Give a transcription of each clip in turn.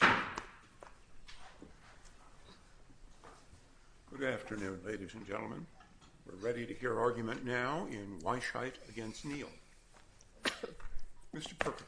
Good afternoon, ladies and gentlemen. We're ready to hear argument now in Weisheit v. Neal. Mr. Perkovich.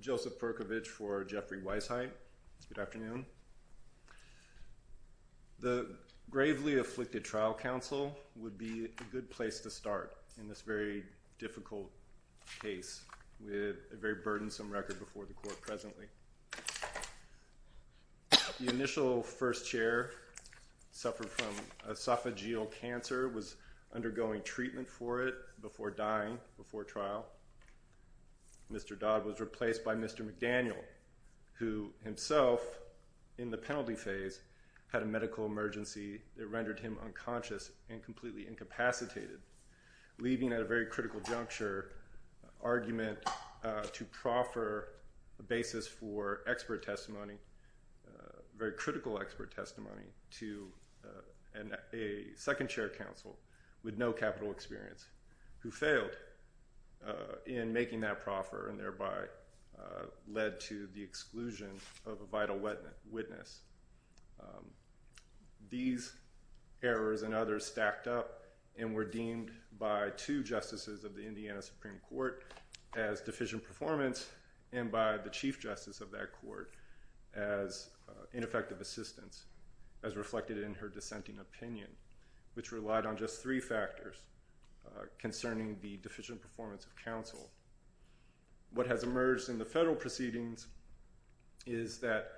Joseph Perkovich for Jeffrey Weisheit. Good afternoon. The gravely afflicted trial counsel would be a good place to start in this very difficult case with a very burdensome record before the court presently. The initial first chair suffered from esophageal cancer, was undergoing treatment for it before dying, before trial. Mr. Dodd was replaced by Mr. McDaniel, who himself in the penalty phase had a medical emergency that rendered him unconscious and completely incapacitated, leaving at a very critical juncture argument to proffer a basis for expert testimony, very critical expert testimony to a second chair counsel with no capital experience, who failed in making that proffer and thereby led to the exclusion of a vital witness. These errors and others stacked up and were deemed by two justices of the Indiana Supreme Court as deficient performance and by the chief justice of that court as ineffective assistance, as reflected in her dissenting opinion, which relied on just three factors concerning the deficient performance of counsel. What has emerged in the federal proceedings is that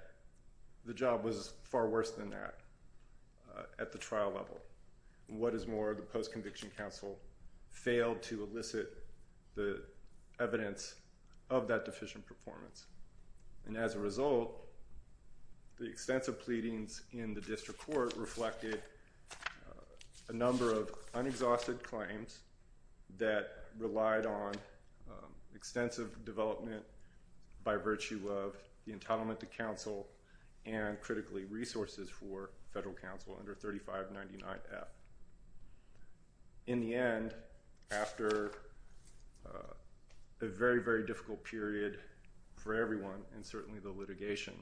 the job was far worse than that at the trial level. What is more, the post-conviction counsel failed to elicit the evidence of that deficient performance. And as a result, the extensive pleadings in the district court reflected a number of unexhausted claims that relied on extensive development by virtue of the entitlement to counsel and critically resources for federal counsel under 3599F. In the end, after a very, very difficult period for everyone and certainly the litigation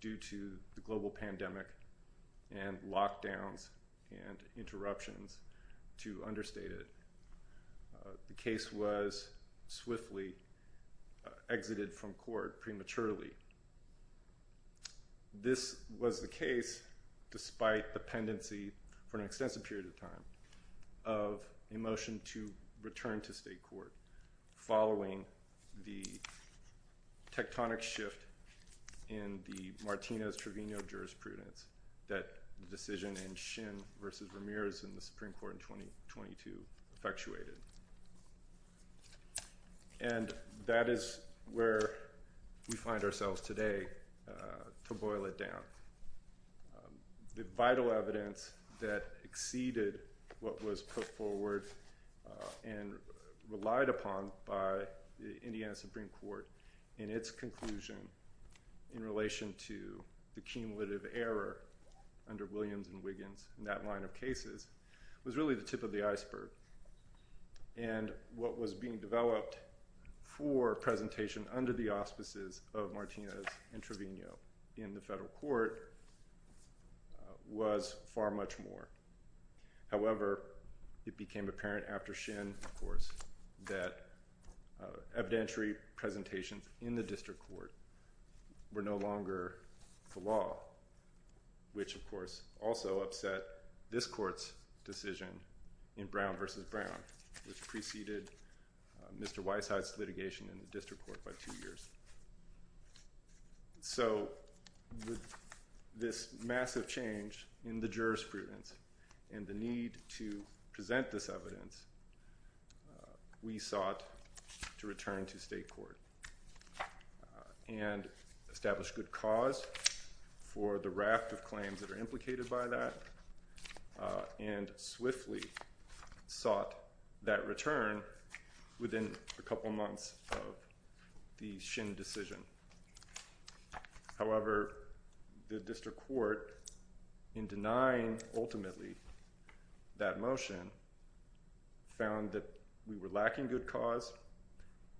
due to the global pandemic and lockdowns and interruptions to understate it, the case was swiftly exited from court prematurely. This was the case, despite the pendency for an extensive period of time, of a motion to return to state court following the tectonic shift in the Martinez-Trevino jurisprudence that the decision in Shin v. Ramirez in the Supreme Court in 2022 effectuated. And that is where we find ourselves today, to boil it down. The vital evidence that exceeded what was put forward and relied upon by the Indiana Supreme Court in its conclusion in relation to the cumulative error under Williams and Wiggins in that line of cases was really the tip of the iceberg. And what was being developed for presentation under the auspices of Martinez and Trevino in the federal court was far much more. However, it became apparent after Shin, of course, that evidentiary presentations in the district court were no longer the law, which, of course, also upset this court's decision in Brown v. Brown, which preceded Mr. Weisheit's litigation in the district court by two years. So with this massive change in the jurisprudence and the need to present this evidence, we sought to return to state court and establish good cause for the raft of claims that are implicated by that and swiftly sought that return within a couple of months of the Shin decision. However, the district court, in denying ultimately that motion, found that we were lacking good cause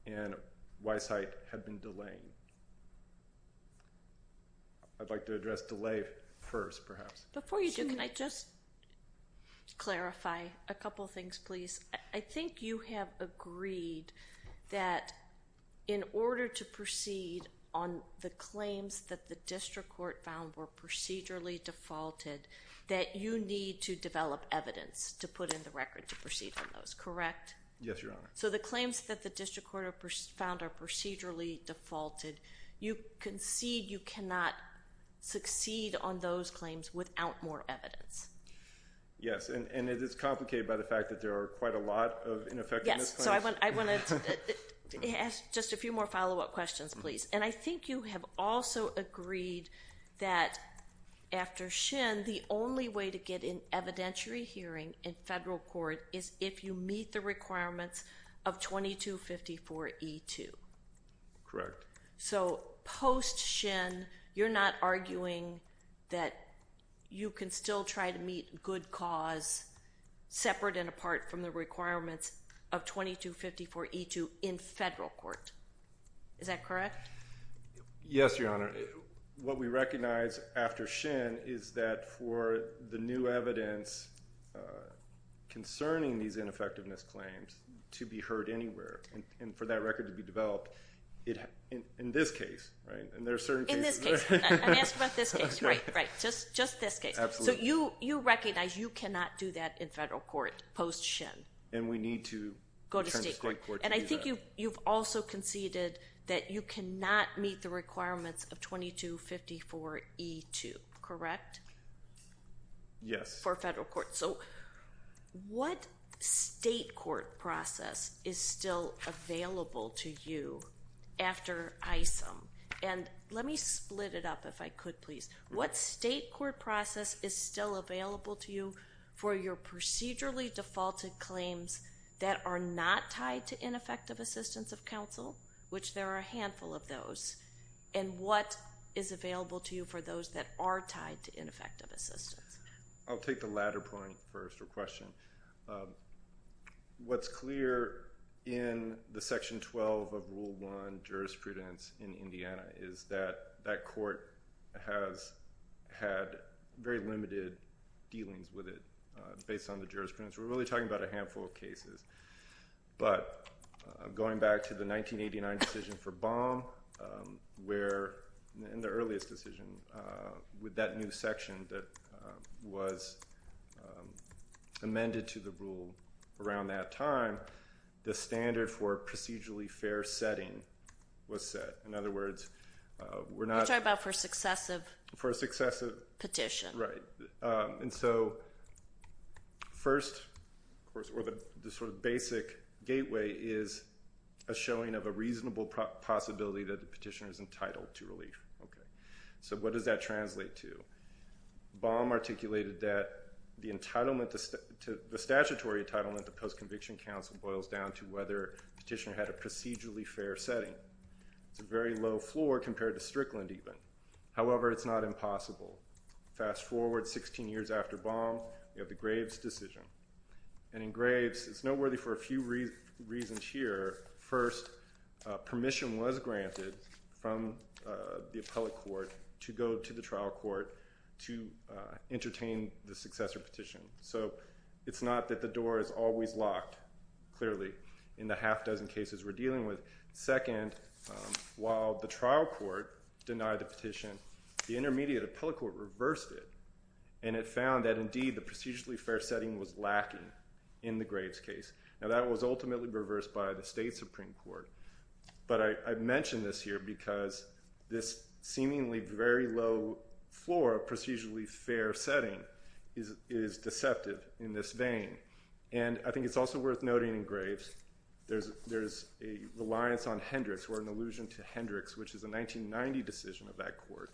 and Weisheit had been delaying. I'd like to address delay first, perhaps. Before you do, can I just clarify a couple of things, please? I think you have agreed that in order to proceed on the claims that the district court found were procedurally defaulted, that you need to develop evidence to put in the record to proceed on those, correct? Yes, Your Honor. So the claims that the district court found are procedurally defaulted. You concede you cannot succeed on those claims without more evidence. Yes, and it is complicated by the fact that there are quite a lot of ineffectiveness claims. Yes, so I want to ask just a few more follow-up questions, please. And I think you have also agreed that after Shin, the only way to get an evidentiary hearing in federal court is if you meet the requirements of 2254E2. Correct. So post-Shin, you're not arguing that you can still try to meet good cause separate and apart from the requirements of 2254E2 in federal court. Is that correct? Yes, Your Honor. What we recognize after Shin is that for the new evidence concerning these ineffectiveness claims to be heard anywhere, and for that record to be developed, in this case, right? In this case. I'm asking about this case, right? Just this case. Absolutely. So you recognize you cannot do that in federal court post-Shin. And we need to turn to state court to do that. And I think you've also conceded that you cannot meet the requirements of 2254E2, correct? Yes. For federal court. So what state court process is still available to you after Isom? And let me split it up if I could, please. What state court process is still available to you for your procedurally defaulted claims that are not tied to ineffective assistance of counsel, which there are a handful of those? And what is available to you for those that are tied to ineffective assistance? I'll take the latter point first, or question. What's clear in the Section 12 of Rule 1 jurisprudence in Indiana is that that court has had very limited dealings with it based on the jurisprudence. We're really talking about a handful of cases. But going back to the 1989 decision for Baum, where in the earliest decision with that new section that was amended to the rule around that time, the standard for procedurally fair setting was set. In other words, we're not- We're talking about for successive- For successive- Petition. Right. And so first, of course, the sort of basic gateway is a showing of a reasonable possibility that the petitioner is entitled to relief. So what does that translate to? Baum articulated that the statutory entitlement to post-conviction counsel boils down to whether the petitioner had a procedurally fair setting. It's a very low floor compared to Strickland, even. However, it's not impossible. Fast forward 16 years after Baum, you have the Graves decision. And in Graves, it's noteworthy for a few reasons here. First, permission was granted from the appellate court to go to the trial court to entertain the successor petition. So it's not that the door is always locked, clearly, in the half dozen cases we're dealing with. Second, while the trial court denied the petition, the intermediate appellate court reversed it. And it found that, indeed, the procedurally fair setting was lacking in the Graves case. Now, that was ultimately reversed by the state Supreme Court. But I mention this here because this seemingly very low floor of procedurally fair setting is deceptive in this vein. And I think it's also worth noting in Graves, there's a reliance on Hendricks, or an allusion to Hendricks, which is a 1990 decision of that court.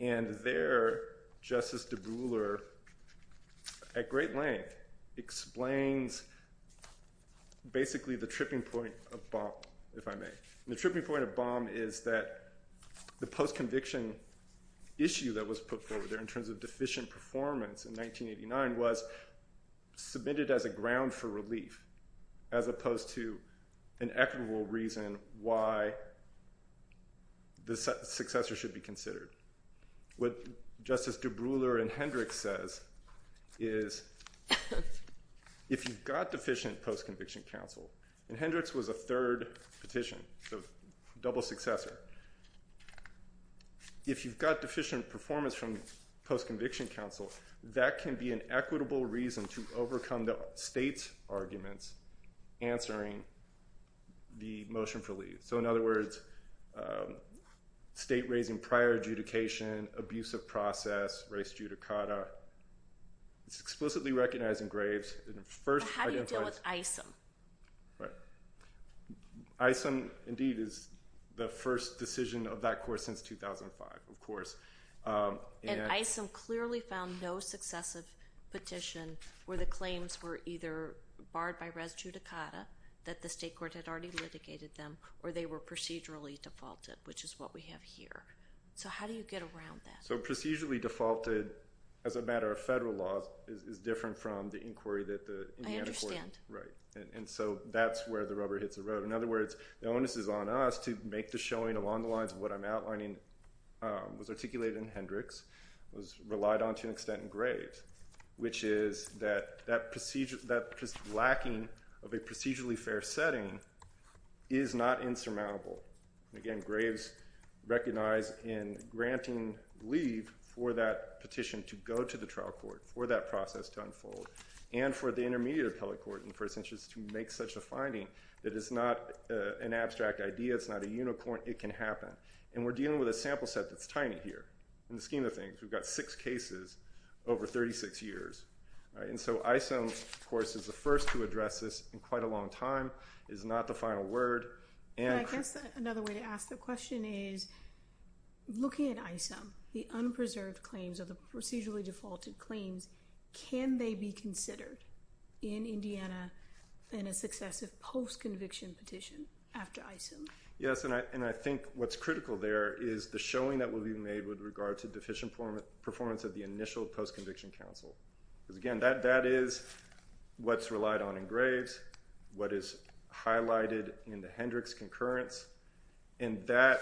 And there, Justice DeBruyler, at great length, explains basically the tripping point of Baum, if I may. And the tripping point of Baum is that the post-conviction issue that was put forward there in terms of deficient performance in 1989 was submitted as a ground for relief, as opposed to an equitable reason why the successor should be considered. What Justice DeBruyler in Hendricks says is, if you've got deficient post-conviction counsel, and Hendricks was a third petition, so double successor, if you've got deficient performance from post-conviction counsel, that can be an equitable reason to overcome the state's arguments answering the motion for leave. So in other words, state raising prior adjudication, abusive process, res judicata, it's explicitly recognized in Graves. How do you deal with ISM? ISM, indeed, is the first decision of that court since 2005, of course. And ISM clearly found no successive petition where the claims were either barred by res judicata, that the state court had already litigated them, or they were procedurally defaulted, which is what we have here. So how do you get around that? So procedurally defaulted, as a matter of federal law, is different from the inquiry that the Indiana court- Right. And so that's where the rubber hits the road. In other words, the onus is on us to make the showing along the lines of what I'm outlining was articulated in Hendricks, was relied on to an extent in Graves, which is that that lacking of a procedurally fair setting is not insurmountable. Again, Graves recognized in granting leave for that petition to go to the trial court, for that process to unfold, and for the intermediate appellate court in the first instance to make such a finding that it's not an abstract idea, it's not a unicorn, it can happen. And we're dealing with a sample set that's tiny here. In the scheme of things, we've got six cases over 36 years. And so ISM, of course, is the first to address this in quite a long time, is not the final word, and- And I guess another way to ask the question is, looking at ISM, the unpreserved claims or the procedurally defaulted claims, can they be considered in Indiana in a successive post-conviction petition after ISM? Yes, and I think what's critical there is the showing that will be made with regard to deficient performance of the initial post-conviction counsel. Because again, that is what's relied on in Graves, what is highlighted in the Hendricks concurrence, and that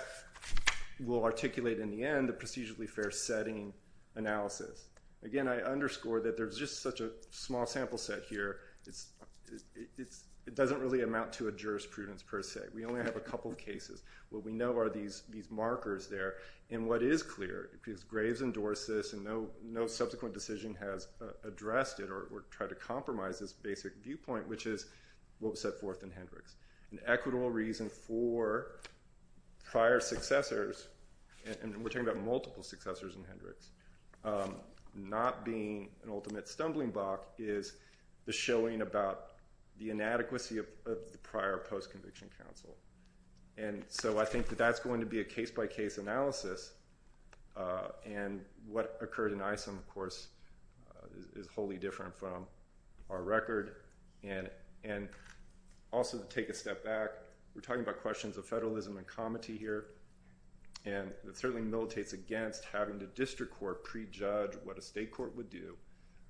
will articulate in the end the procedurally fair setting analysis. Again, I underscore that there's just such a small sample set here, it doesn't really amount to a jurisprudence per se. We only have a couple of cases. What we know are these markers there. And what is clear, because Graves endorsed this and no subsequent decision has addressed it or tried to compromise this basic viewpoint, which is what was set forth in Hendricks. An equitable reason for prior successors, and we're talking about multiple successors in Hendricks, not being an ultimate stumbling block is the showing about the inadequacy of the prior post-conviction counsel. And so I think that that's going to be a case-by-case analysis. And what occurred in ISM, of course, is wholly different from our record. And also to take a step back, we're talking about questions of federalism and comity here, and it certainly militates against having the district court prejudge what a state court would do,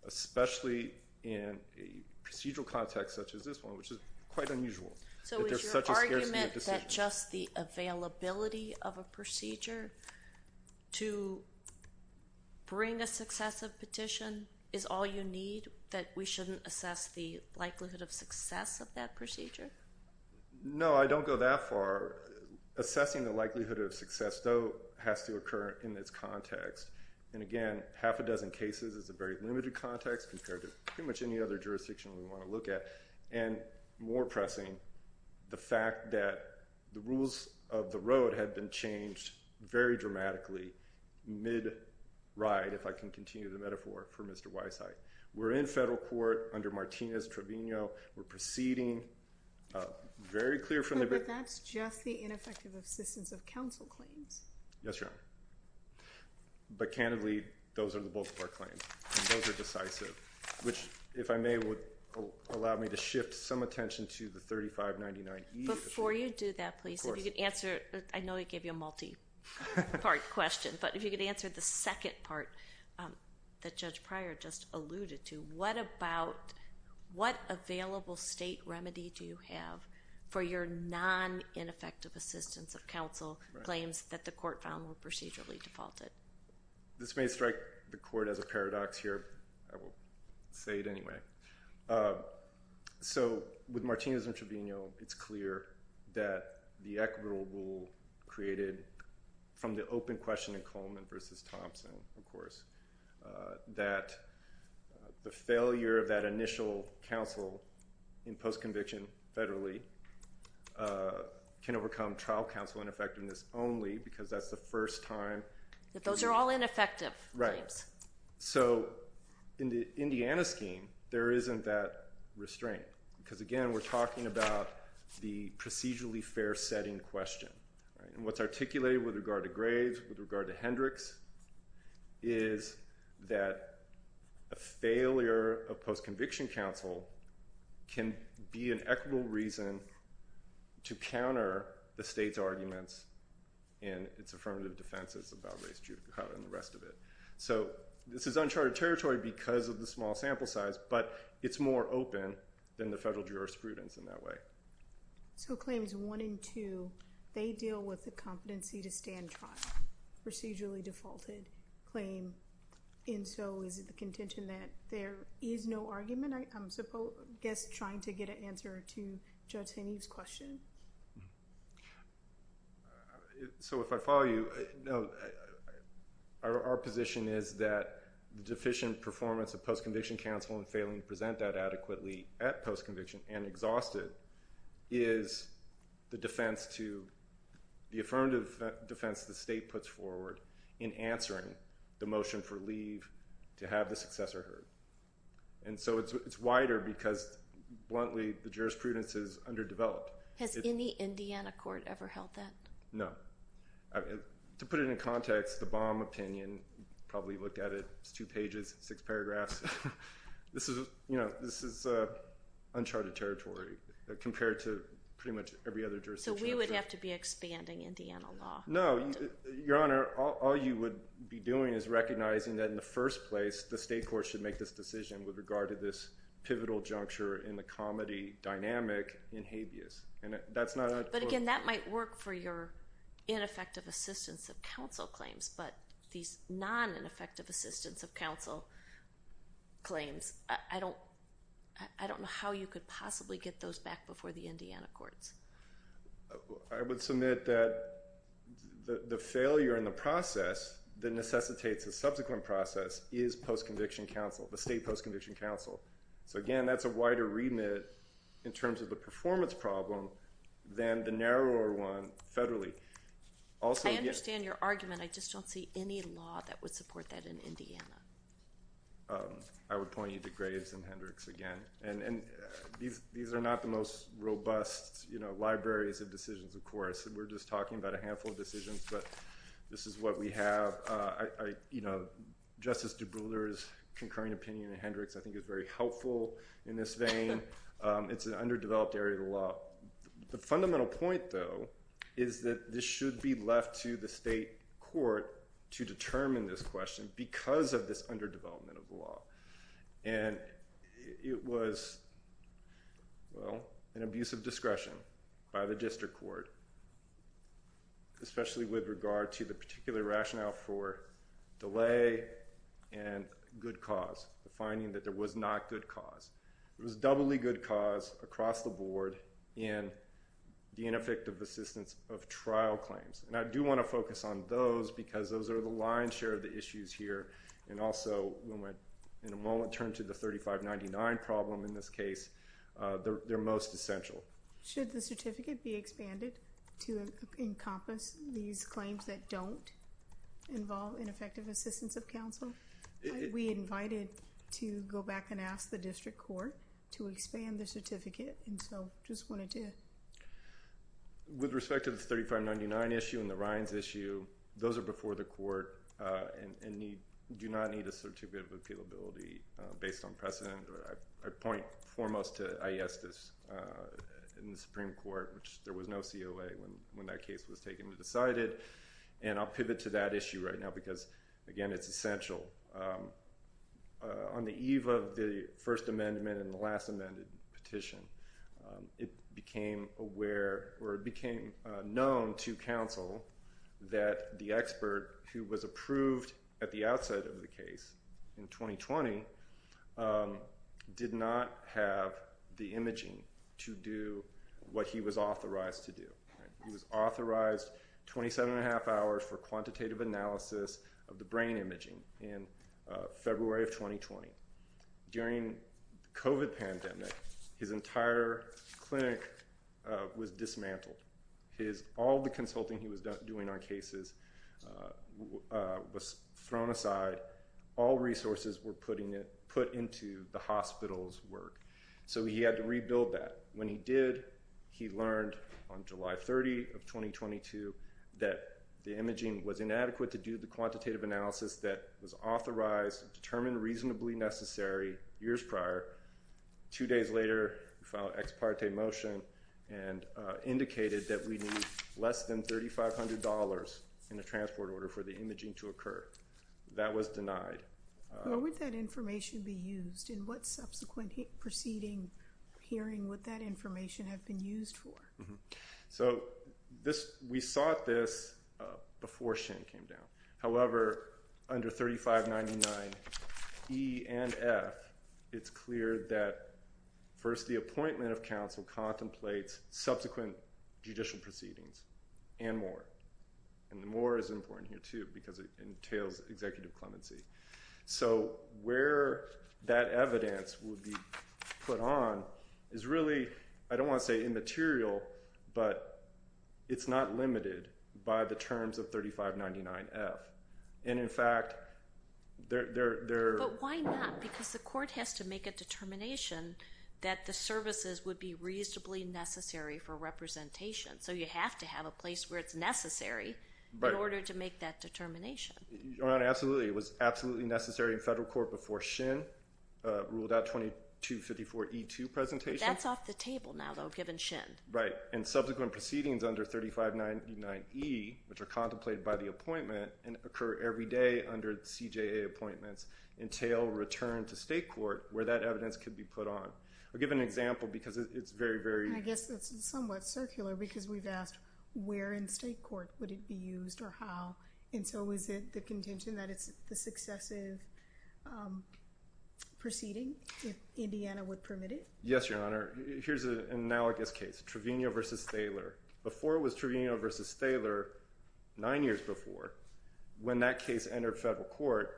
especially in a procedural context such as this one, which is quite unusual. So is your argument that just the availability of a procedure to bring a successive petition is all you need, that we shouldn't assess the likelihood of success of that procedure? No, I don't go that far. Assessing the likelihood of success, though, has to occur in this context. And, again, half a dozen cases is a very limited context compared to pretty much any other jurisdiction we want to look at. And more pressing, the fact that the rules of the road had been changed very dramatically mid-ride, if I can continue the metaphor for Mr. Weisheit. We're in federal court under Martinez-Trevino. We're proceeding very clear from the beginning. But that's just the ineffective assistance of counsel claims. Yes, Your Honor. But, candidly, those are the bulk of our claims, and those are decisive, which, if I may, would allow me to shift some attention to the 3599E. Before you do that, please, if you could answer, I know I gave you a multi-part question, but if you could answer the second part that Judge Pryor just alluded to. What available state remedy do you have for your non-ineffective assistance of counsel claims that the court found were procedurally defaulted? This may strike the court as a paradox here. I will say it anyway. So with Martinez-Trevino, it's clear that the equitable rule created from the open question in Coleman v. Thompson, of course, that the failure of that initial counsel in post-conviction federally can overcome trial counsel ineffectiveness only, because that's the first time. But those are all ineffective claims. So in the Indiana scheme, there isn't that restraint, because, again, we're talking about the procedurally fair-setting question. And what's articulated with regard to Graves, with regard to Hendricks, is that a failure of post-conviction counsel can be an equitable reason to counter the state's arguments in its affirmative defenses about race, juvenile, and the rest of it. So this is uncharted territory because of the small sample size, but it's more open than the federal jurisprudence in that way. So claims 1 and 2, they deal with the competency to stand trial, procedurally defaulted claim. And so is it the contention that there is no argument? I guess I'm trying to get an answer to Judge Haney's question. So if I follow you, no. Our position is that the deficient performance of post-conviction counsel and failing to present that adequately at post-conviction and exhausted is the affirmative defense the state puts forward in answering the motion for leave to have the successor heard. And so it's wider because, bluntly, the jurisprudence is underdeveloped. Has any Indiana court ever held that? No. To put it in context, the Baum opinion, probably looked at it, it's two pages, six paragraphs. This is uncharted territory compared to pretty much every other jurisdiction. So we would have to be expanding Indiana law. No. Your Honor, all you would be doing is recognizing that in the first place, the state court should make this decision with regard to this pivotal juncture in the comedy dynamic in habeas. But, again, that might work for your ineffective assistance of counsel claims, but these non-ineffective assistance of counsel claims, I don't know how you could possibly get those back before the Indiana courts. I would submit that the failure in the process that necessitates a subsequent process is post-conviction counsel, the state post-conviction counsel. So, again, that's a wider remit in terms of the performance problem than the narrower one federally. I understand your argument. I just don't see any law that would support that in Indiana. I would point you to Graves and Hendricks again. And these are not the most robust libraries of decisions, of course. We're just talking about a handful of decisions, but this is what we have. Justice Dubrouillard's concurring opinion in Hendricks I think is very helpful in this vein. It's an underdeveloped area of the law. The fundamental point, though, is that this should be left to the state court to determine this question because of this underdevelopment of the law. And it was, well, an abuse of discretion by the district court, especially with regard to the particular rationale for delay and good cause, the finding that there was not good cause. There was doubly good cause across the board in the ineffective assistance of trial claims. And I do want to focus on those because those are the lion's share of the issues here. And also, when we in a moment turn to the 3599 problem in this case, they're most essential. Should the certificate be expanded to encompass these claims that don't involve ineffective assistance of counsel? We invited to go back and ask the district court to expand the certificate, and so just wanted to. With respect to the 3599 issue and the Ryan's issue, those are before the court and do not need a certificate of appealability based on precedent. I point foremost to Aiestes in the Supreme Court, which there was no COA when that case was taken and decided. And I'll pivot to that issue right now because, again, it's essential. On the eve of the First Amendment and the last amended petition, it became known to counsel that the expert who was approved at the outset of the case in 2020 did not have the imaging to do what he was authorized to do. He was authorized 27 and a half hours for quantitative analysis of the brain imaging in February of 2020. During the COVID pandemic, his entire clinic was dismantled. All the consulting he was doing on cases was thrown aside. All resources were put into the hospital's work, so he had to rebuild that. When he did, he learned on July 30 of 2022 that the imaging was inadequate to do the quantitative analysis that was authorized and determined reasonably necessary years prior. Two days later, he filed an ex parte motion and indicated that we need less than $3,500 in the transport order for the imaging to occur. That was denied. What would that information be used in? What subsequent proceeding hearing would that information have been used for? So we sought this before Shin came down. However, under 3599 E and F, it's clear that first the appointment of counsel contemplates subsequent judicial proceedings and more. And the more is important here, too, because it entails executive clemency. So where that evidence would be put on is really, I don't want to say immaterial, but it's not limited by the terms of 3599 F. And in fact, they're- But why not? Because the court has to make a determination that the services would be reasonably necessary for representation. So you have to have a place where it's necessary in order to make that determination. Your Honor, absolutely. It was absolutely necessary in federal court before Shin ruled out 2254 E2 presentation. That's off the table now, though, given Shin. Right. And subsequent proceedings under 3599 E, which are contemplated by the appointment and occur every day under CJA appointments, entail return to state court where that evidence could be put on. I'll give an example because it's very, very- And I guess that's somewhat circular because we've asked where in state court would it be used or how. And so is it the contention that it's the successive proceeding if Indiana would permit it? Yes, Your Honor. Here's an analogous case, Trevino v. Thaler. Before it was Trevino v. Thaler, nine years before, when that case entered federal court,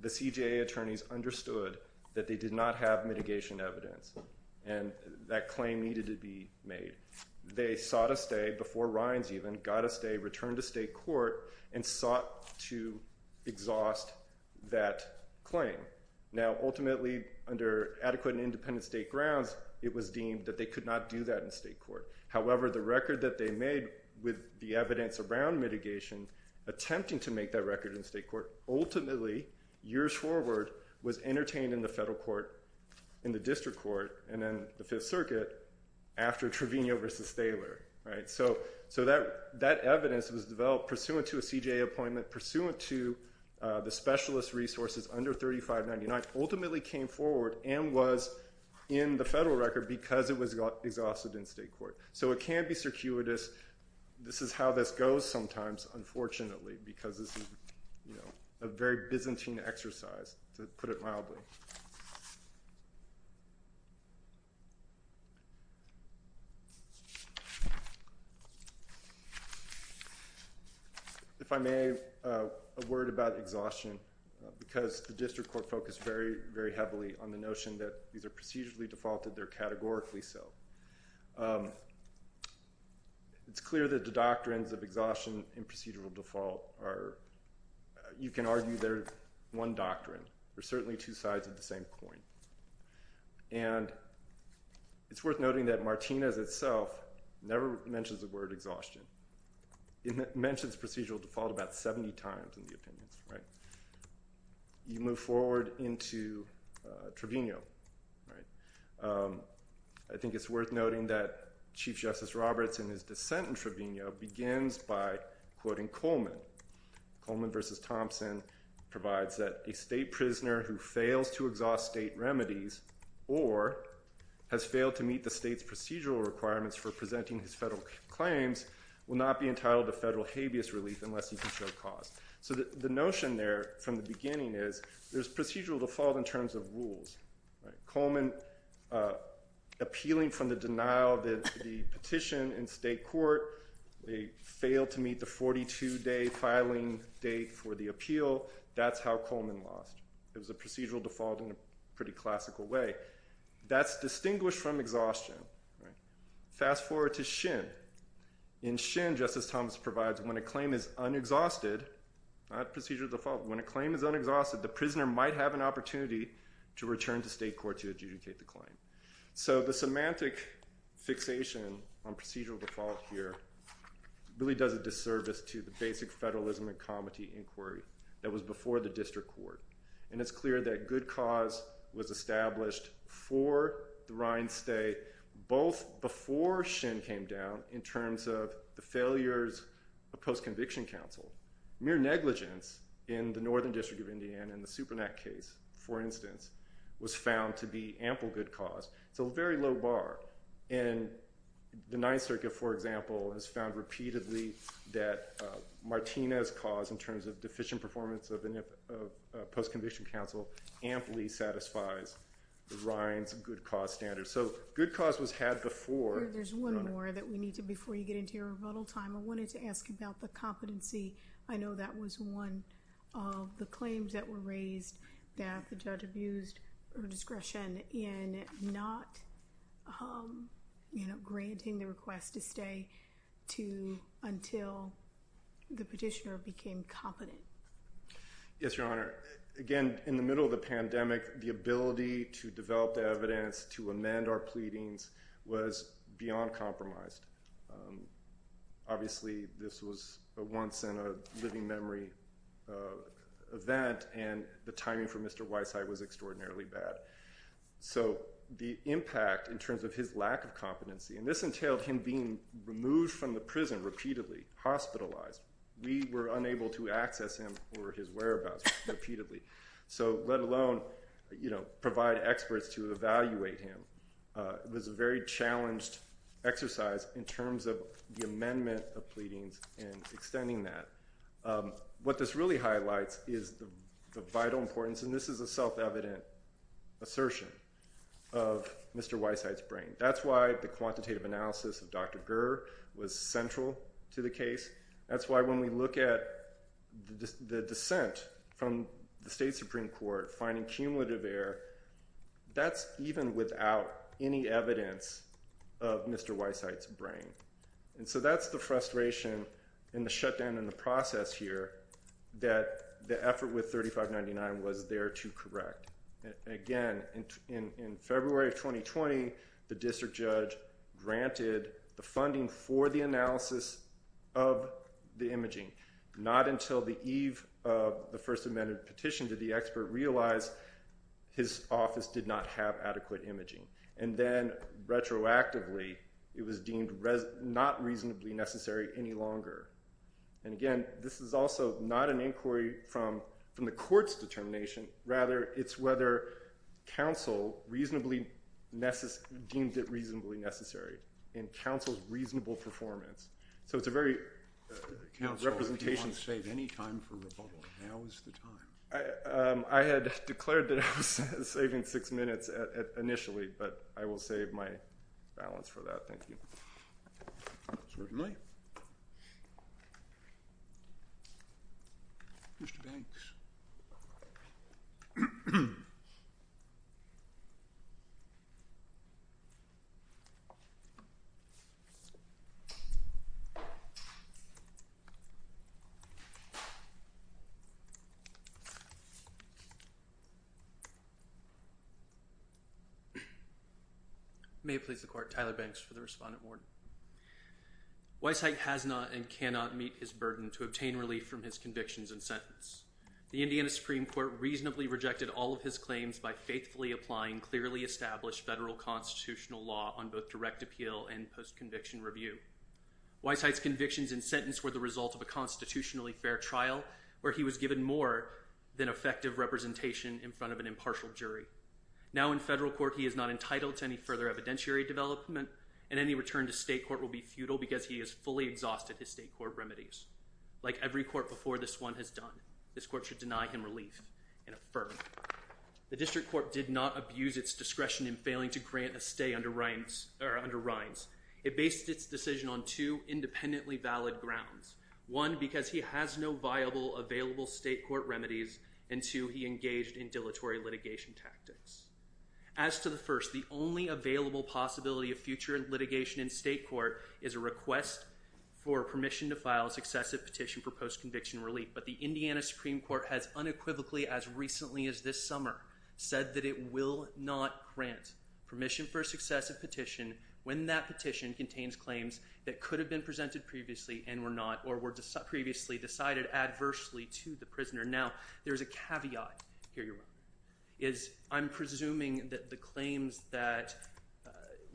the CJA attorneys understood that they did not have mitigation evidence. And that claim needed to be made. They sought a stay before Rines even, got a stay, returned to state court, and sought to exhaust that claim. Now, ultimately, under adequate and independent state grounds, it was deemed that they could not do that in state court. However, the record that they made with the evidence around mitigation, attempting to make that record in state court, ultimately, years forward, was entertained in the federal court, in the district court, and then the Fifth Circuit after Trevino v. Thaler. So that evidence was developed pursuant to a CJA appointment, pursuant to the specialist resources under 3599, ultimately came forward and was in the federal record because it was exhausted in state court. So it can be circuitous. This is how this goes sometimes, unfortunately, because this is a very Byzantine exercise, to put it mildly. If I may, a word about exhaustion, because the district court focused very, very heavily on the notion that these are procedurally defaulted, they're categorically so. It's clear that the doctrines of exhaustion and procedural default are, you can argue they're one doctrine. They're certainly two sides of the same coin. And it's worth noting that Martinez itself never mentions the word exhaustion. It mentions procedural default about 70 times in the opinions. You move forward into Trevino. I think it's worth noting that Chief Justice Roberts, in his dissent in Trevino, begins by quoting Coleman. Coleman v. Thompson provides that a state prisoner who fails to exhaust state remedies or has failed to meet the state's procedural requirements for presenting his federal claims will not be entitled to federal habeas relief unless he can show cause. So the notion there from the beginning is there's procedural default in terms of rules. Coleman appealing from the denial of the petition in state court, they failed to meet the 42-day filing date for the appeal, that's how Coleman lost. It was a procedural default in a pretty classical way. That's distinguished from exhaustion. Fast forward to Shin. In Shin, Justice Thomas provides, when a claim is unexhausted, not procedural default, when a claim is unexhausted, the prisoner might have an opportunity to return to state court to adjudicate the claim. So the semantic fixation on procedural default here really does a disservice to the basic federalism and comity inquiry that was before the district court. And it's clear that good cause was established for the Rhine State both before Shin came down in terms of the failures of post-conviction counsel. Mere negligence in the Northern District of Indiana in the Supernat case, for instance, was found to be ample good cause. It's a very low bar. And the Ninth Circuit, for example, has found repeatedly that Martinez's cause in terms of deficient performance of post-conviction counsel amply satisfies the Rhine's good cause standard. So good cause was had before. There's one more that we need to, before you get into your rebuttal time, I wanted to ask about the competency. I know that was one of the claims that were raised that the judge abused her discretion in not granting the request to stay until the petitioner became competent. Yes, Your Honor. Again, in the middle of the pandemic, the ability to develop the evidence to amend our pleadings was beyond compromised. Obviously, this was a once-in-a-living-memory event, and the timing for Mr. Weissheim was extraordinarily bad. So the impact in terms of his lack of competency, and this entailed him being removed from the prison repeatedly, hospitalized. We were unable to access him or his whereabouts repeatedly, so let alone provide experts to evaluate him. It was a very challenged exercise in terms of the amendment of pleadings and extending that. What this really highlights is the vital importance, and this is a self-evident assertion of Mr. Weissheim's brain. That's why the quantitative analysis of Dr. Gurr was central to the case. That's why when we look at the dissent from the state Supreme Court finding cumulative error, that's even without any evidence of Mr. Weissheim's brain. And so that's the frustration and the shutdown in the process here that the effort with 3599 was there to correct. Again, in February of 2020, the district judge granted the funding for the analysis of the imaging. Not until the eve of the First Amendment petition did the expert realize his office did not have adequate imaging. And then retroactively, it was deemed not reasonably necessary any longer. And again, this is also not an inquiry from the court's determination. Rather, it's whether counsel deemed it reasonably necessary in counsel's reasonable performance. So it's a very representation. Counsel, if you want to save any time for rebuttal, now is the time. I had declared that I was saving six minutes initially, but I will save my balance for that. Certainly. Mr. Banks. May it please the court, Tyler Banks for the respondent warrant. Weissheim has not and cannot meet his burden to obtain relief from his convictions and sentence. The Indiana Supreme Court reasonably rejected all of his claims by faithfully applying clearly established federal constitutional law on both direct appeal and post-conviction review. Weissheim's convictions and sentence were the result of a constitutionally fair trial where he was given more than effective representation in front of an impartial jury. Now in federal court, he is not entitled to any further evidentiary development, and any return to state court will be futile because he has fully exhausted his state court remedies. Like every court before this one has done, this court should deny him relief and affirm. The district court did not abuse its discretion in failing to grant a stay under Reins. It based its decision on two independently valid grounds. One, because he has no viable available state court remedies, and two, he engaged in dilatory litigation tactics. As to the first, the only available possibility of future litigation in state court is a request for permission to file successive petition for post-conviction relief. But the Indiana Supreme Court has unequivocally as recently as this summer said that it will not grant permission for successive petition when that petition contains claims that could have been presented previously and were not or were previously decided adversely to the prisoner. Now there is a caveat here. I'm presuming that the claims that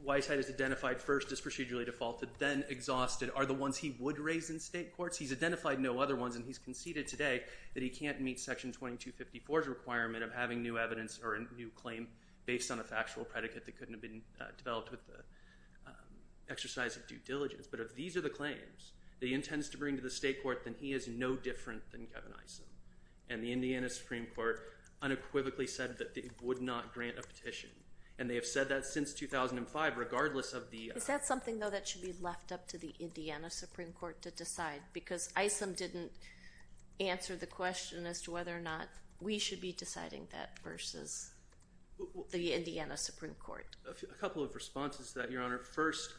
Weisheit has identified first as procedurally defaulted then exhausted are the ones he would raise in state courts. He's identified no other ones, and he's conceded today that he can't meet Section 2254's requirement of having new evidence or a new claim based on a factual predicate that couldn't have been developed with the exercise of due diligence. But if these are the claims that he intends to bring to the state court, then he is no different than Kevin Isom. And the Indiana Supreme Court unequivocally said that it would not grant a petition. And they have said that since 2005 regardless of the— Is that something, though, that should be left up to the Indiana Supreme Court to decide? Because Isom didn't answer the question as to whether or not we should be deciding that versus the Indiana Supreme Court. A couple of responses to that, Your Honor. First,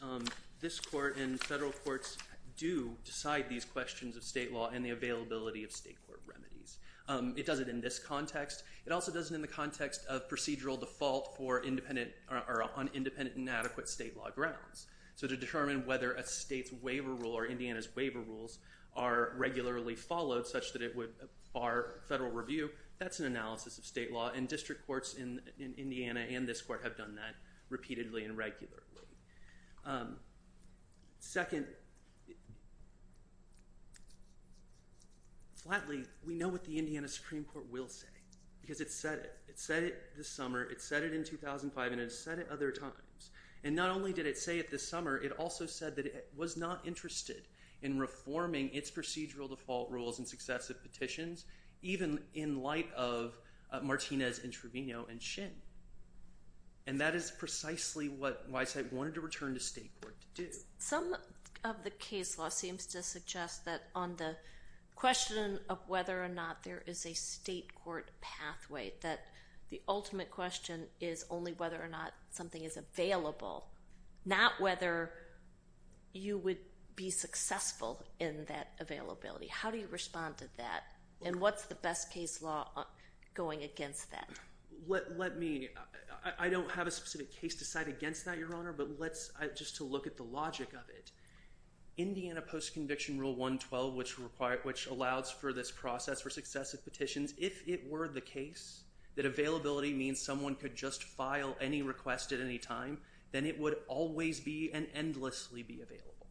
this court and federal courts do decide these questions of state law and the availability of state court remedies. It does it in this context. It also does it in the context of procedural default on independent and adequate state law grounds. So to determine whether a state's waiver rule or Indiana's waiver rules are regularly followed such that it would bar federal review, that's an analysis of state law. And district courts in Indiana and this court have done that repeatedly and regularly. Second, flatly, we know what the Indiana Supreme Court will say because it said it. It said it this summer. It said it in 2005, and it said it other times. And not only did it say it this summer, it also said that it was not interested in reforming its procedural default rules and successive petitions, even in light of Martinez, Introvino, and Shin. And that is precisely what Weisheit wanted to return to state court to do. Some of the case law seems to suggest that on the question of whether or not there is a state court pathway, that the ultimate question is only whether or not something is available, not whether you would be successful in that availability. How do you respond to that, and what's the best case law going against that? Let me. I don't have a specific case to cite against that, Your Honor, but let's just look at the logic of it. Indiana Post-Conviction Rule 112, which allows for this process for successive petitions, if it were the case that availability means someone could just file any request at any time, then it would always be and endlessly be available.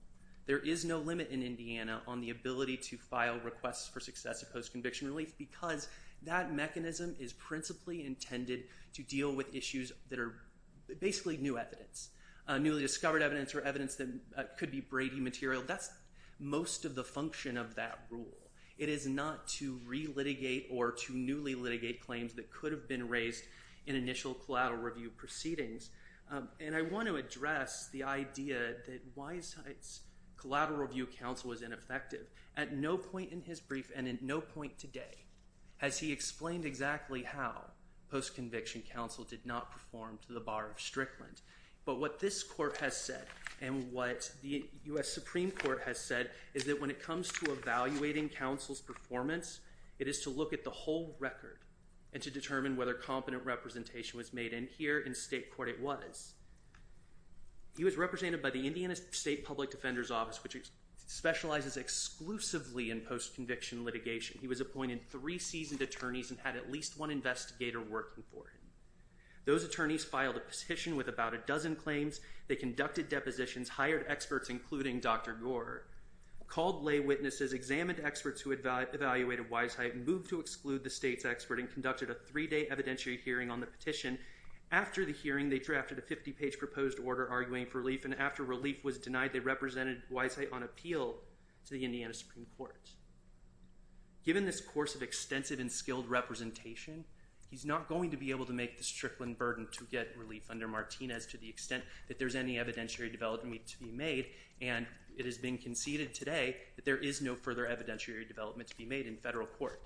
There is no limit in Indiana on the ability to file requests for successive post-conviction relief because that mechanism is principally intended to deal with issues that are basically new evidence, newly discovered evidence or evidence that could be Brady material. That's most of the function of that rule. It is not to re-litigate or to newly litigate claims that could have been raised in initial collateral review proceedings. I want to address the idea that Wise Height's collateral review counsel was ineffective. At no point in his brief and at no point today has he explained exactly how post-conviction counsel did not perform to the bar of Strickland. But what this court has said and what the U.S. Supreme Court has said is that when it comes to evaluating counsel's performance, it is to look at the whole record and to determine whether competent representation was made. And here in state court it was. He was represented by the Indiana State Public Defender's Office, which specializes exclusively in post-conviction litigation. He was appointed three seasoned attorneys and had at least one investigator working for him. Those attorneys filed a petition with about a dozen claims. They conducted depositions, hired experts, including Dr. Gore, called lay witnesses, examined experts who had evaluated Wise Height, moved to exclude the state's expert, and conducted a three-day evidentiary hearing on the petition. After the hearing, they drafted a 50-page proposed order arguing for relief. And after relief was denied, they represented Wise Height on appeal to the Indiana Supreme Court. Given this course of extensive and skilled representation, he's not going to be able to make the Strickland burden to get relief under Martinez to the extent that there's any evidentiary development to be made. And it has been conceded today that there is no further evidentiary development to be made in federal court.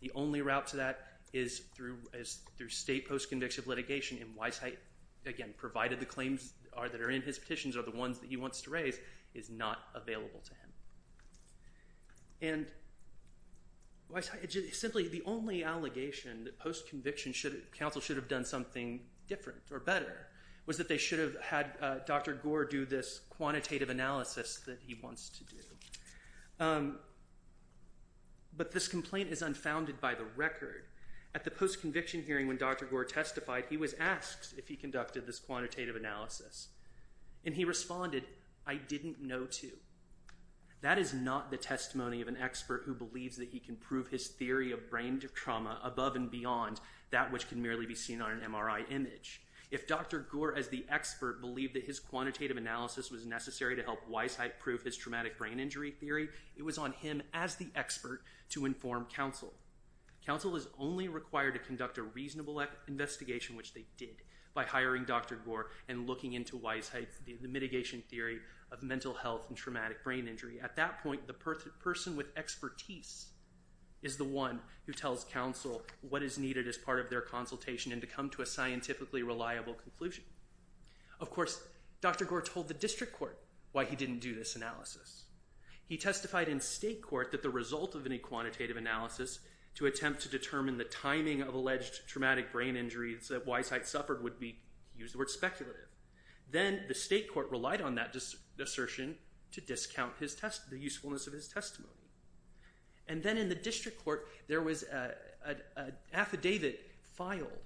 The only route to that is through state post-conviction litigation. And Wise Height, again, provided the claims that are in his petitions are the ones that he wants to raise, is not available to him. And simply the only allegation that post-conviction counsel should have done something different or better was that they should have had Dr. Gore do this quantitative analysis that he wants to do. But this complaint is unfounded by the record. At the post-conviction hearing when Dr. Gore testified, he was asked if he conducted this quantitative analysis. And he responded, I didn't know to. That is not the testimony of an expert who believes that he can prove his theory of brain trauma above and beyond that which can merely be seen on an MRI image. If Dr. Gore as the expert believed that his quantitative analysis was necessary to help Wise Height prove his traumatic brain injury theory, it was on him as the expert to inform counsel. Counsel is only required to conduct a reasonable investigation, which they did, by hiring Dr. Gore and looking into Wise Height's mitigation theory of mental health and traumatic brain injury. At that point, the person with expertise is the one who tells counsel what is needed as part of their consultation and to come to a scientifically reliable conclusion. Of course, Dr. Gore told the district court why he didn't do this analysis. He testified in state court that the result of any quantitative analysis to attempt to determine the timing of alleged traumatic brain injuries that Wise Height suffered would be, he used the word, speculative. Then the state court relied on that assertion to discount the usefulness of his testimony. And then in the district court, there was an affidavit filed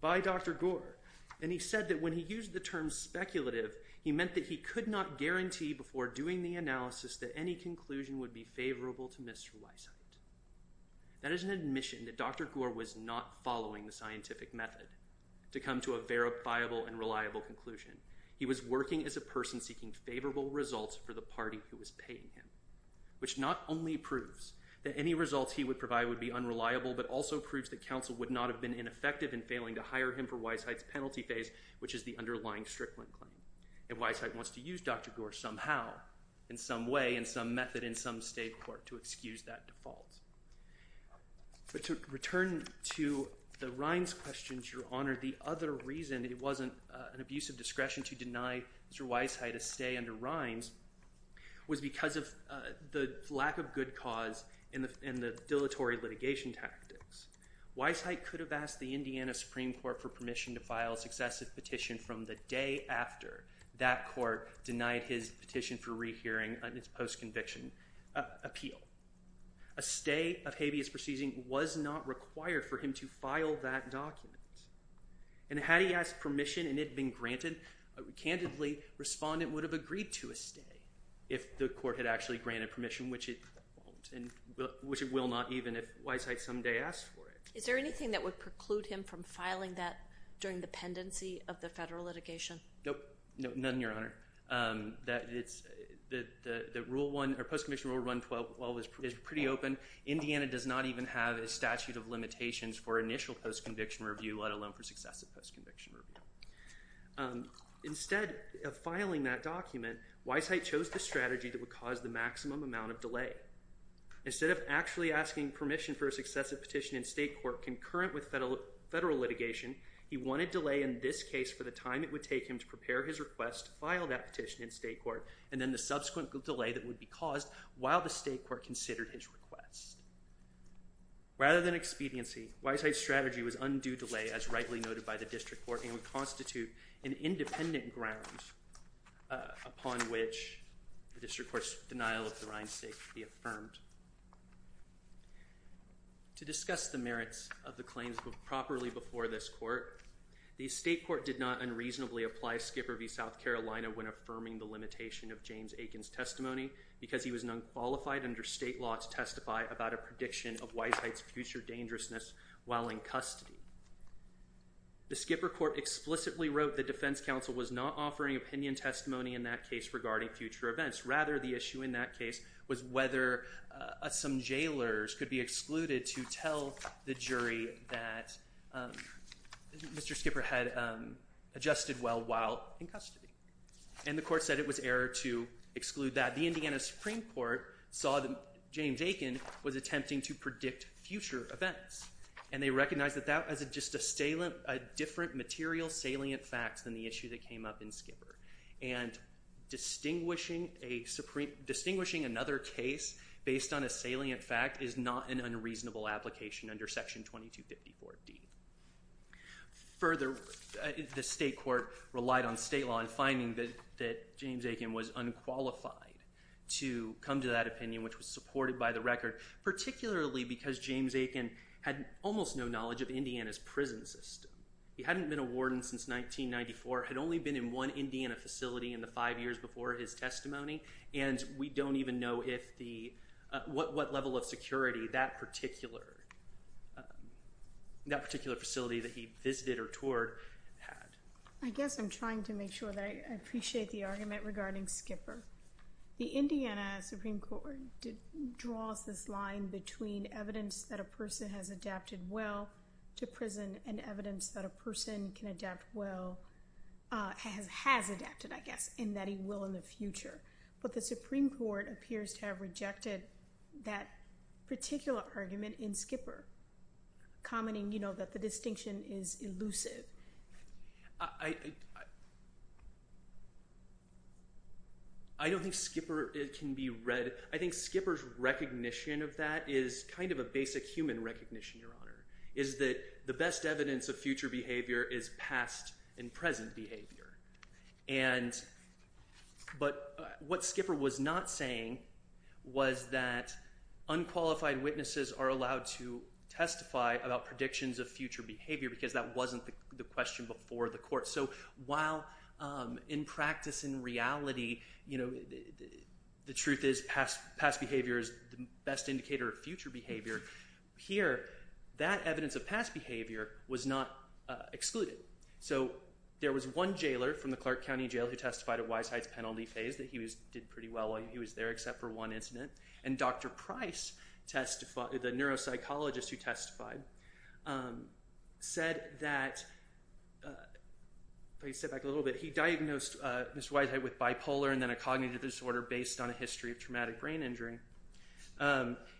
by Dr. Gore, and he said that when he used the term speculative, he meant that he could not guarantee before doing the analysis that any conclusion would be favorable to Mr. Wise Height. That is an admission that Dr. Gore was not following the scientific method to come to a verifiable and reliable conclusion. He was working as a person seeking favorable results for the party who was paying him, which not only proves that any results he would provide would be unreliable, but also proves that counsel would not have been ineffective in failing to hire him for Wise Height's penalty phase, which is the underlying Strickland claim. And Wise Height wants to use Dr. Gore somehow, in some way, in some method, in some state court, to excuse that default. But to return to the Rhines questions, Your Honor, the other reason it wasn't an abuse of discretion to deny Mr. Wise Height a stay under Rhines was because of the lack of good cause and the dilatory litigation tactics. Wise Height could have asked the Indiana Supreme Court for permission to file a successive petition from the day after that court denied his petition for rehearing on its post-conviction appeal. A stay of habeas proceeding was not required for him to file that document. And had he asked permission and it had been granted, candidly, Respondent would have agreed to a stay if the court had actually granted permission, which it won't, and which it will not even if Wise Height someday asks for it. Is there anything that would preclude him from filing that during the pendency of the federal litigation? Nope, none, Your Honor. The post-conviction rule run 12-12 is pretty open. Indiana does not even have a statute of limitations for initial post-conviction review, let alone for successive post-conviction review. Instead of filing that document, Wise Height chose the strategy that would cause the maximum amount of delay. Instead of actually asking permission for a successive petition in state court concurrent with federal litigation, he wanted delay in this case for the time it would take him to prepare his request to file that petition in state court, and then the subsequent delay that would be caused while the state court considered his request. Rather than expediency, Wise Height's strategy was undue delay, as rightly noted by the district court, and would constitute an independent ground upon which the district court's denial of the Rind State could be affirmed. To discuss the merits of the claims properly before this court, the state court did not unreasonably apply Skipper v. South Carolina when affirming the limitation of James Aiken's testimony because he was unqualified under state law to testify about a prediction of Wise Height's future dangerousness while in custody. The Skipper court explicitly wrote the defense counsel was not offering opinion testimony in that case regarding future events. Rather, the issue in that case was whether some jailers could be excluded to tell the jury that Mr. Skipper had adjusted well while in custody. And the court said it was error to exclude that. The Indiana Supreme Court saw that James Aiken was attempting to predict future events, and they recognized that that was just a different material salient fact than the issue that came up in Skipper. And distinguishing another case based on a salient fact is not an unreasonable application under Section 2254D. Further, the state court relied on state law in finding that James Aiken was unqualified to come to that opinion, which was supported by the record, particularly because James Aiken had almost no knowledge of Indiana's prison system. He hadn't been a warden since 1994, had only been in one Indiana facility in the five years before his testimony, and we don't even know what level of security that particular facility that he visited or toured had. I guess I'm trying to make sure that I appreciate the argument regarding Skipper. The Indiana Supreme Court draws this line between evidence that a person has adapted well to prison but the Supreme Court appears to have rejected that particular argument in Skipper, commenting, you know, that the distinction is elusive. I don't think Skipper can be read. I think Skipper's recognition of that is kind of a basic human recognition, Your Honor, is that the best evidence of future behavior is past and present behavior. But what Skipper was not saying was that unqualified witnesses are allowed to testify about predictions of future behavior because that wasn't the question before the court. So while in practice, in reality, the truth is past behavior is the best indicator of future behavior, here, that evidence of past behavior was not excluded. So there was one jailer from the Clark County Jail who testified at Weisheidt's penalty phase that he did pretty well while he was there except for one incident, and Dr. Price, the neuropsychologist who testified, said that, if I could step back a little bit, he diagnosed Mr. Weisheidt with bipolar and then a cognitive disorder based on a history of traumatic brain injury.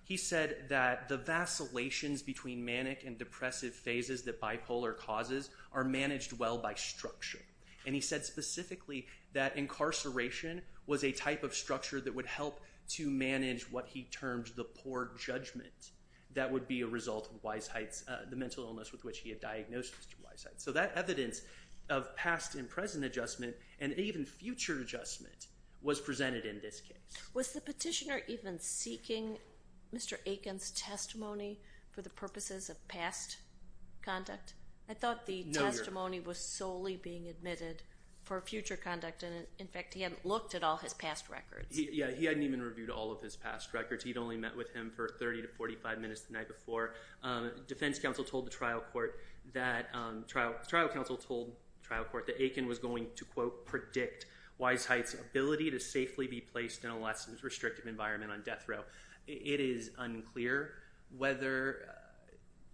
He said that the vacillations between manic and depressive phases that bipolar causes are managed well by structure. And he said specifically that incarceration was a type of structure that would help to manage what he termed the poor judgment that would be a result of Weisheidt's mental illness with which he had diagnosed Mr. Weisheidt. So that evidence of past and present adjustment and even future adjustment was presented in this case. Was the petitioner even seeking Mr. Aiken's testimony for the purposes of past conduct? I thought the testimony was solely being admitted for future conduct. In fact, he hadn't looked at all his past records. Yeah, he hadn't even reviewed all of his past records. He'd only met with him for 30 to 45 minutes the night before. Defense counsel told the trial court that Aiken was going to, quote, predict Weisheidt's ability to safely be placed in a less restrictive environment on death row. It is unclear whether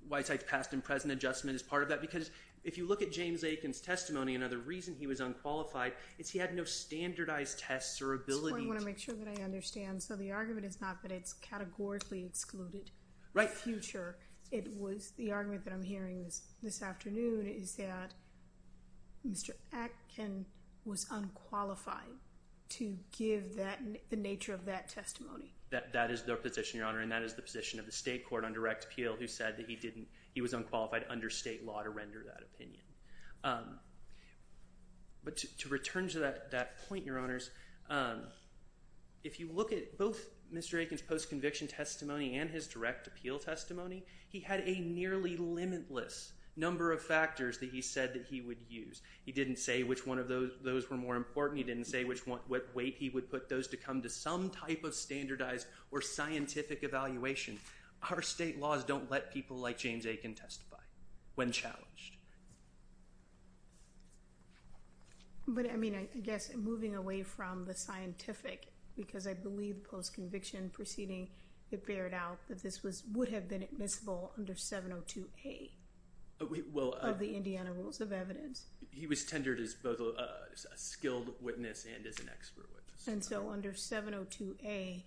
Weisheidt's past and present adjustment is part of that. Because if you look at James Aiken's testimony, another reason he was unqualified is he had no standardized tests or ability. I just want to make sure that I understand. So the argument is not that it's categorically excluded future. The argument that I'm hearing this afternoon is that Mr. Aiken was unqualified to give the nature of that testimony. That is their position, Your Honor, and that is the position of the state court under Rex Peel, who said that he was unqualified under state law to render that opinion. But to return to that point, Your Honors, if you look at both Mr. Aiken's post-conviction testimony and his direct appeal testimony, he had a nearly limitless number of factors that he said that he would use. He didn't say which one of those were more important. He didn't say what weight he would put those to come to some type of standardized or scientific evaluation. Our state laws don't let people like James Aiken testify when challenged. But, I mean, I guess moving away from the scientific, because I believe post-conviction proceeding, it bared out that this would have been admissible under 702A of the Indiana Rules of Evidence. He was tendered as both a skilled witness and as an expert witness. And so under 702A,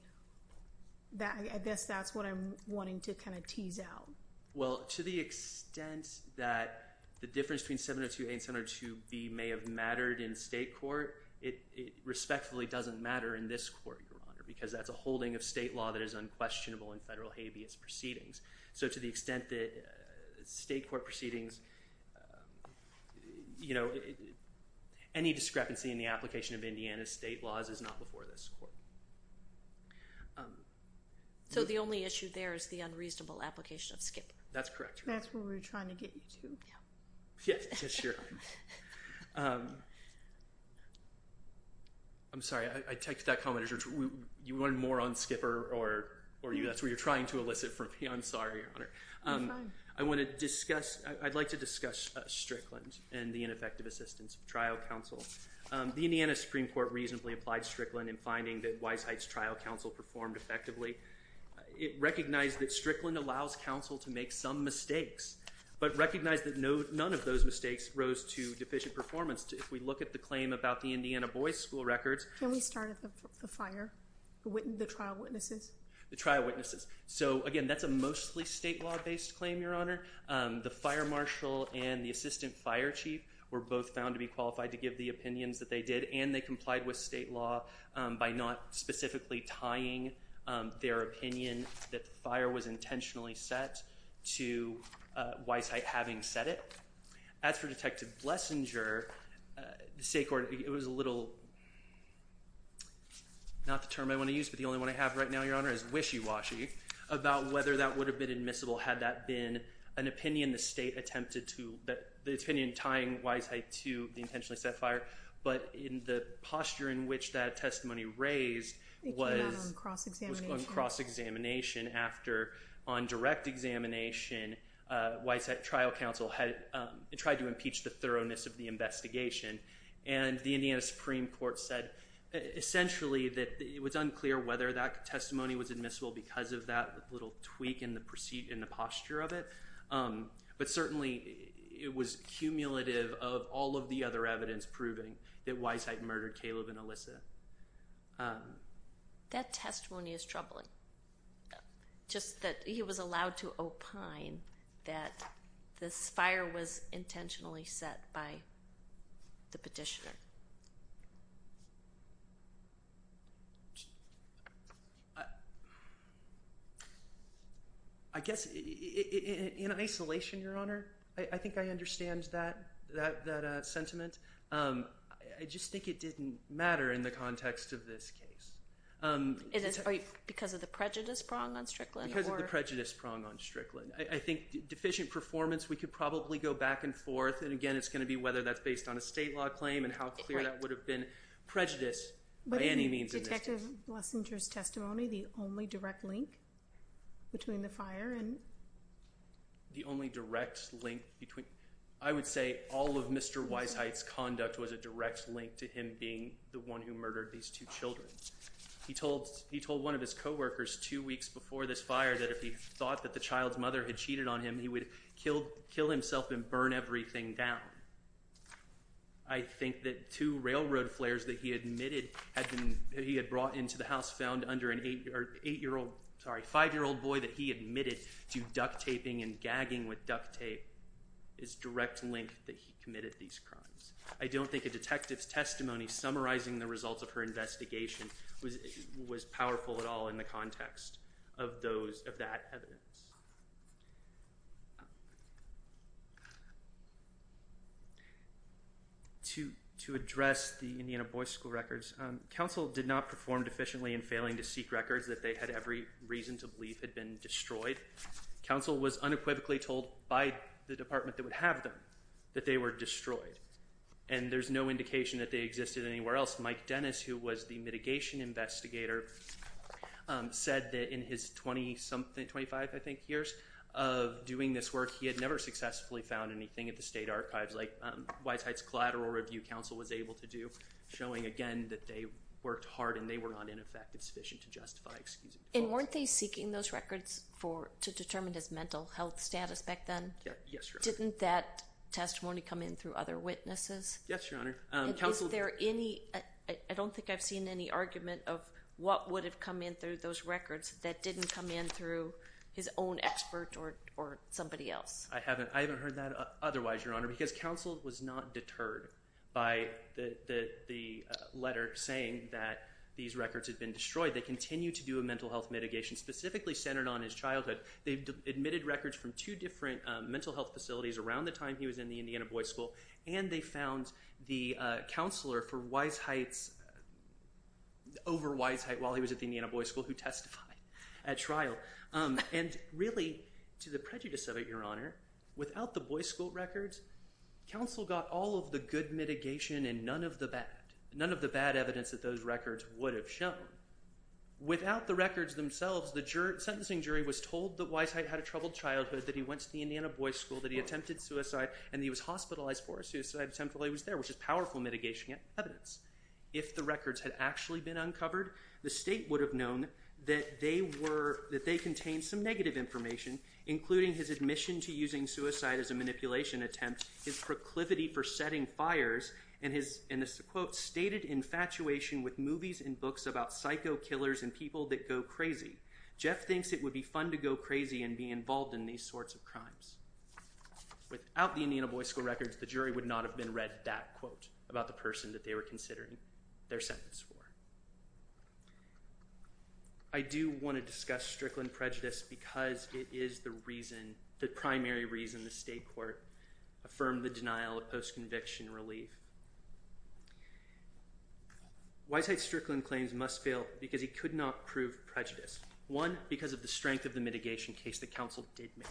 I guess that's what I'm wanting to kind of tease out. Well, to the extent that the difference between 702A and 702B may have mattered in state court, it respectfully doesn't matter in this court, Your Honor, because that's a holding of state law that is unquestionable in federal habeas proceedings. So to the extent that state court proceedings, you know, any discrepancy in the application of Indiana state laws is not before this court. So the only issue there is the unreasonable application of Skipper. That's correct, Your Honor. That's what we were trying to get you to. Yes, Your Honor. I'm sorry, I take that comment as you wanted more on Skipper, or that's what you're trying to elicit from me. I'm sorry, Your Honor. You're fine. I want to discuss, I'd like to discuss Strickland and the ineffective assistance of trial counsel. The Indiana Supreme Court reasonably applied Strickland in finding that Weisheit's trial counsel performed effectively. It recognized that Strickland allows counsel to make some mistakes, but recognized that none of those mistakes rose to deficient performance. If we look at the claim about the Indiana boys' school records. Can we start at the fire, the trial witnesses? The trial witnesses. So, again, that's a mostly state law-based claim, Your Honor. The fire marshal and the assistant fire chief were both found to be qualified to give the opinions that they did, and they complied with state law by not specifically tying their opinion that the fire was intentionally set to Weisheit having said it. As for Detective Blessinger, it was a little, not the term I want to use, but the only one I have right now, Your Honor, is wishy-washy about whether that would have been admissible had that been an opinion the state attempted to, the opinion tying Weisheit to the intentionally set fire, but in the posture in which that testimony raised was on cross-examination. After, on direct examination, Weisheit trial counsel had tried to impeach the thoroughness of the investigation, and the Indiana Supreme Court said, essentially, that it was unclear whether that testimony was admissible because of that little tweak in the posture of it, but certainly it was cumulative of all of the other evidence proving that Weisheit murdered Caleb and Alyssa. That testimony is troubling, just that he was allowed to opine that this fire was intentionally set by the petitioner. I guess in isolation, Your Honor, I think I understand that sentiment. I just think it didn't matter in the context of this case. Because of the prejudice prong on Strickland? Because of the prejudice prong on Strickland. I think deficient performance, we could probably go back and forth, and again, it's going to be whether that's based on a state law claim and how clear that would have been prejudice by any means admissible. But isn't Detective Lessinger's testimony the only direct link between the fire and... The only direct link between... I would say all of Mr. Weisheit's conduct was a direct link to him being the one who murdered these two children. He told one of his co-workers two weeks before this fire that if he thought that the child's mother had cheated on him, he would kill himself and burn everything down. I think that two railroad flares that he admitted he had brought into the house found under an eight-year-old... Sorry, five-year-old boy that he admitted to duct-taping and gagging with duct tape is direct link that he committed these crimes. I don't think a detective's testimony summarizing the results of her investigation was powerful at all in the context of that evidence. To address the Indiana Boys' School records, counsel did not perform deficiently in failing to seek records that they had every reason to believe had been destroyed. Counsel was unequivocally told by the department that would have them that they were destroyed, and there's no indication that they existed anywhere else. Mike Dennis, who was the mitigation investigator, said that in his 20-something, 25, I think, years of doing this work, he had never successfully found anything at the state archives like Weisheit's collateral review counsel was able to do, showing, again, that they worked hard and they were not ineffective sufficient to justify excusing defaults. And weren't they seeking those records to determine his mental health status back then? Yes, Your Honor. Didn't that testimony come in through other witnesses? Yes, Your Honor. And is there any... I don't think I've seen any argument of what would have come in through those records that didn't come in through his own expert or somebody else. I haven't heard that otherwise, Your Honor, because counsel was not deterred by the letter saying that these records had been destroyed. They continued to do a mental health mitigation specifically centered on his childhood. They admitted records from two different mental health facilities around the time he was in the Indiana Boys' School, and they found the counselor for Weisheit's... over Weisheit while he was at the Indiana Boys' School who testified at trial. And really, to the prejudice of it, Your Honor, without the Boys' School records, counsel got all of the good mitigation and none of the bad. None of the bad evidence that those records would have shown. Without the records themselves, the sentencing jury was told that Weisheit had a troubled childhood, that he went to the Indiana Boys' School, that he attempted suicide, and that he was hospitalized for a suicide attempt while he was there, which is powerful mitigation evidence. If the records had actually been uncovered, the state would have known that they contained some negative information, including his admission to using suicide as a manipulation attempt, his proclivity for setting fires, and his, in this quote, stated infatuation with movies and books about psycho killers and people that go crazy. Jeff thinks it would be fun to go crazy and be involved in these sorts of crimes. Without the Indiana Boys' School records, the jury would not have been read that quote about the person that they were considering their sentence for. I do want to discuss Strickland prejudice because it is the reason, the primary reason, the state court affirmed the denial of post-conviction relief. Weisheit's Strickland claims must fail because he could not prove prejudice. One, because of the strength of the mitigation case that counsel did make.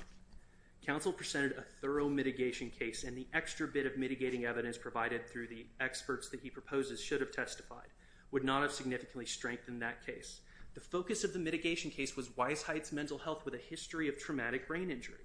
Counsel presented a thorough mitigation case and the extra bit of mitigating evidence provided through the experts that he proposes should have testified would not have significantly strengthened that case. The focus of the mitigation case was Weisheit's mental health with a history of traumatic brain injury.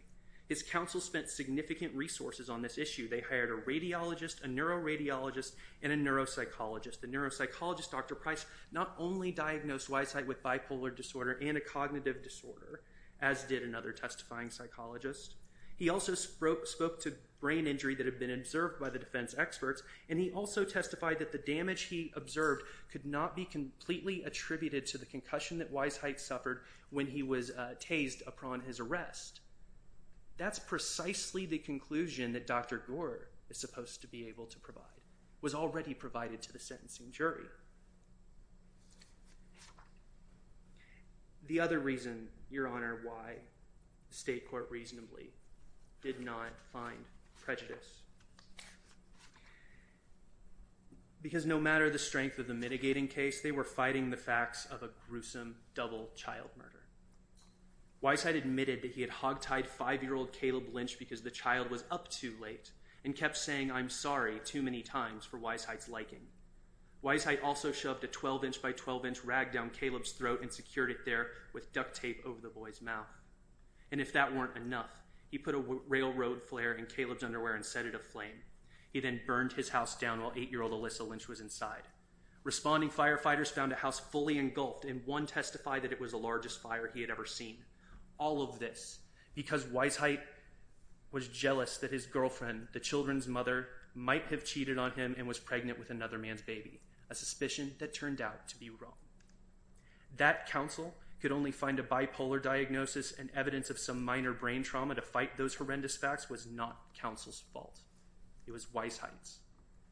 His counsel spent significant resources on this issue. They hired a radiologist, a neuroradiologist, and a neuropsychologist. The neuropsychologist, Dr. Price, not only diagnosed Weisheit with bipolar disorder and a cognitive disorder, as did another testifying psychologist. He also spoke to brain injury that had been observed by the defense experts and he also testified that the damage he observed could not be completely attributed to the concussion that Weisheit suffered when he was tased upon his arrest. That's precisely the conclusion that Dr. Gore is supposed to be able to provide, was already provided to the sentencing jury. The other reason, Your Honor, why the state court reasonably did not find prejudice. Because no matter the strength of the mitigating case, they were fighting the facts of a gruesome double child murder. Weisheit admitted that he had hogtied 5-year-old Caleb Lynch because the child was up too late and kept saying I'm sorry too many times for Weisheit's liking. Weisheit also shoved a 12-inch by 12-inch rag down Caleb's throat and secured it there with duct tape over the boy's mouth. And if that weren't enough, he put a railroad flare in Caleb's underwear and set it aflame. He then burned his house down while 8-year-old Alyssa Lynch was inside. Responding firefighters found a house fully engulfed and one testified that it was the largest fire he had ever seen. All of this because Weisheit was jealous that his girlfriend, the children's mother, might have cheated on him and was pregnant with another man's baby. A suspicion that turned out to be wrong. That counsel could only find a bipolar diagnosis and evidence of some minor brain trauma to fight those horrendous facts was not counsel's fault. It was Weisheit's.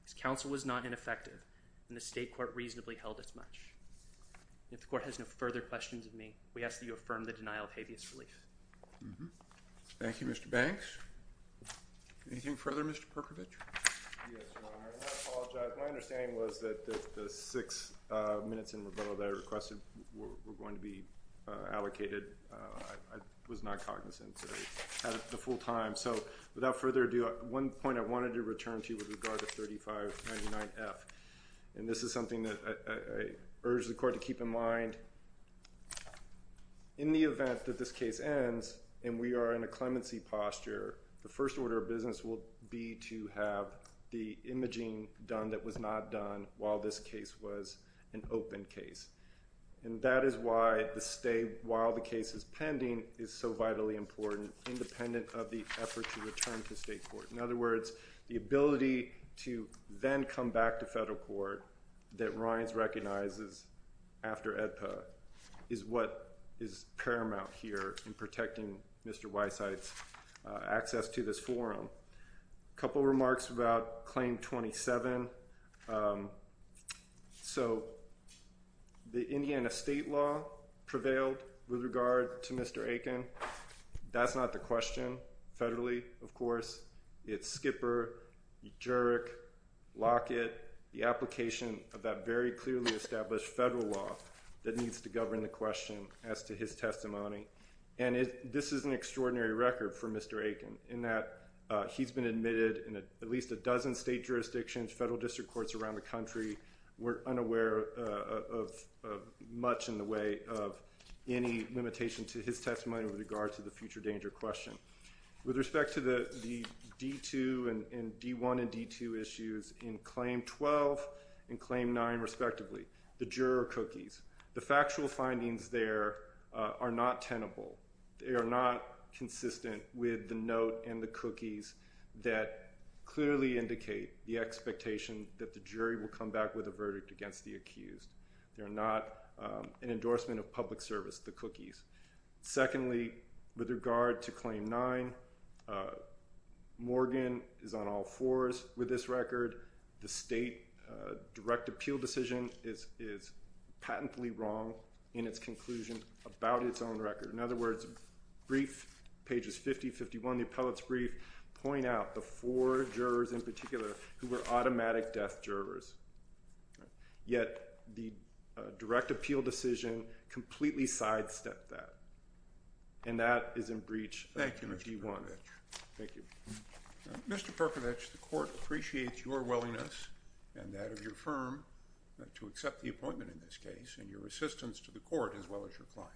His counsel was not ineffective, and the state court reasonably held as much. If the court has no further questions of me, we ask that you affirm the denial of habeas relief. Thank you, Mr. Banks. Anything further, Mr. Perkovich? Yes, Your Honor. I want to apologize. My understanding was that the six minutes in revote that I requested were going to be allocated. I was not cognizant, so I had it the full time. So without further ado, one point I wanted to return to with regard to 3599F. This is something that I urge the court to keep in mind. In the event that this case ends and we are in a clemency posture, the first order of business will be to have the imaging done that was not done while this case was an open case. That is why the stay while the case is pending is so vitally important, independent of the effort to return to state court. In other words, the ability to then come back to federal court that Reince recognizes after AEDPA is what is paramount here in protecting Mr. Weissheit's access to this forum. A couple remarks about Claim 27. So the Indiana state law prevailed with regard to Mr. Aiken. That's not the question federally, of course. It's Skipper, Jurek, Lockett, the application of that very clearly established federal law that needs to govern the question as to his testimony. And this is an extraordinary record for Mr. Aiken in that he's been admitted in at least a dozen state jurisdictions, federal district courts around the country. We're unaware of much in the way of any limitation to his testimony with regard to the future danger question. With respect to the D2 and D1 and D2 issues in Claim 12 and Claim 9 respectively, the juror cookies, the factual findings there are not tenable. They are not consistent with the note and the cookies that clearly indicate the expectation that the jury will come back with a verdict against the accused. They're not an endorsement of public service, the cookies. Secondly, with regard to Claim 9, Morgan is on all fours with this record. The state direct appeal decision is patently wrong in its conclusion about its own record. In other words, brief, pages 50, 51, the appellate's brief, point out the four jurors in particular who were automatic death jurors. Yet the direct appeal decision completely sidestepped that and that is in breach of D1. Thank you, Mr. Perkovich. Mr. Perkovich, the court appreciates your willingness and that of your firm to accept the appointment in this case and your assistance to the court as well as your client.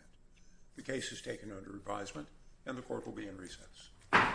The case is taken under advisement and the court will be in recess.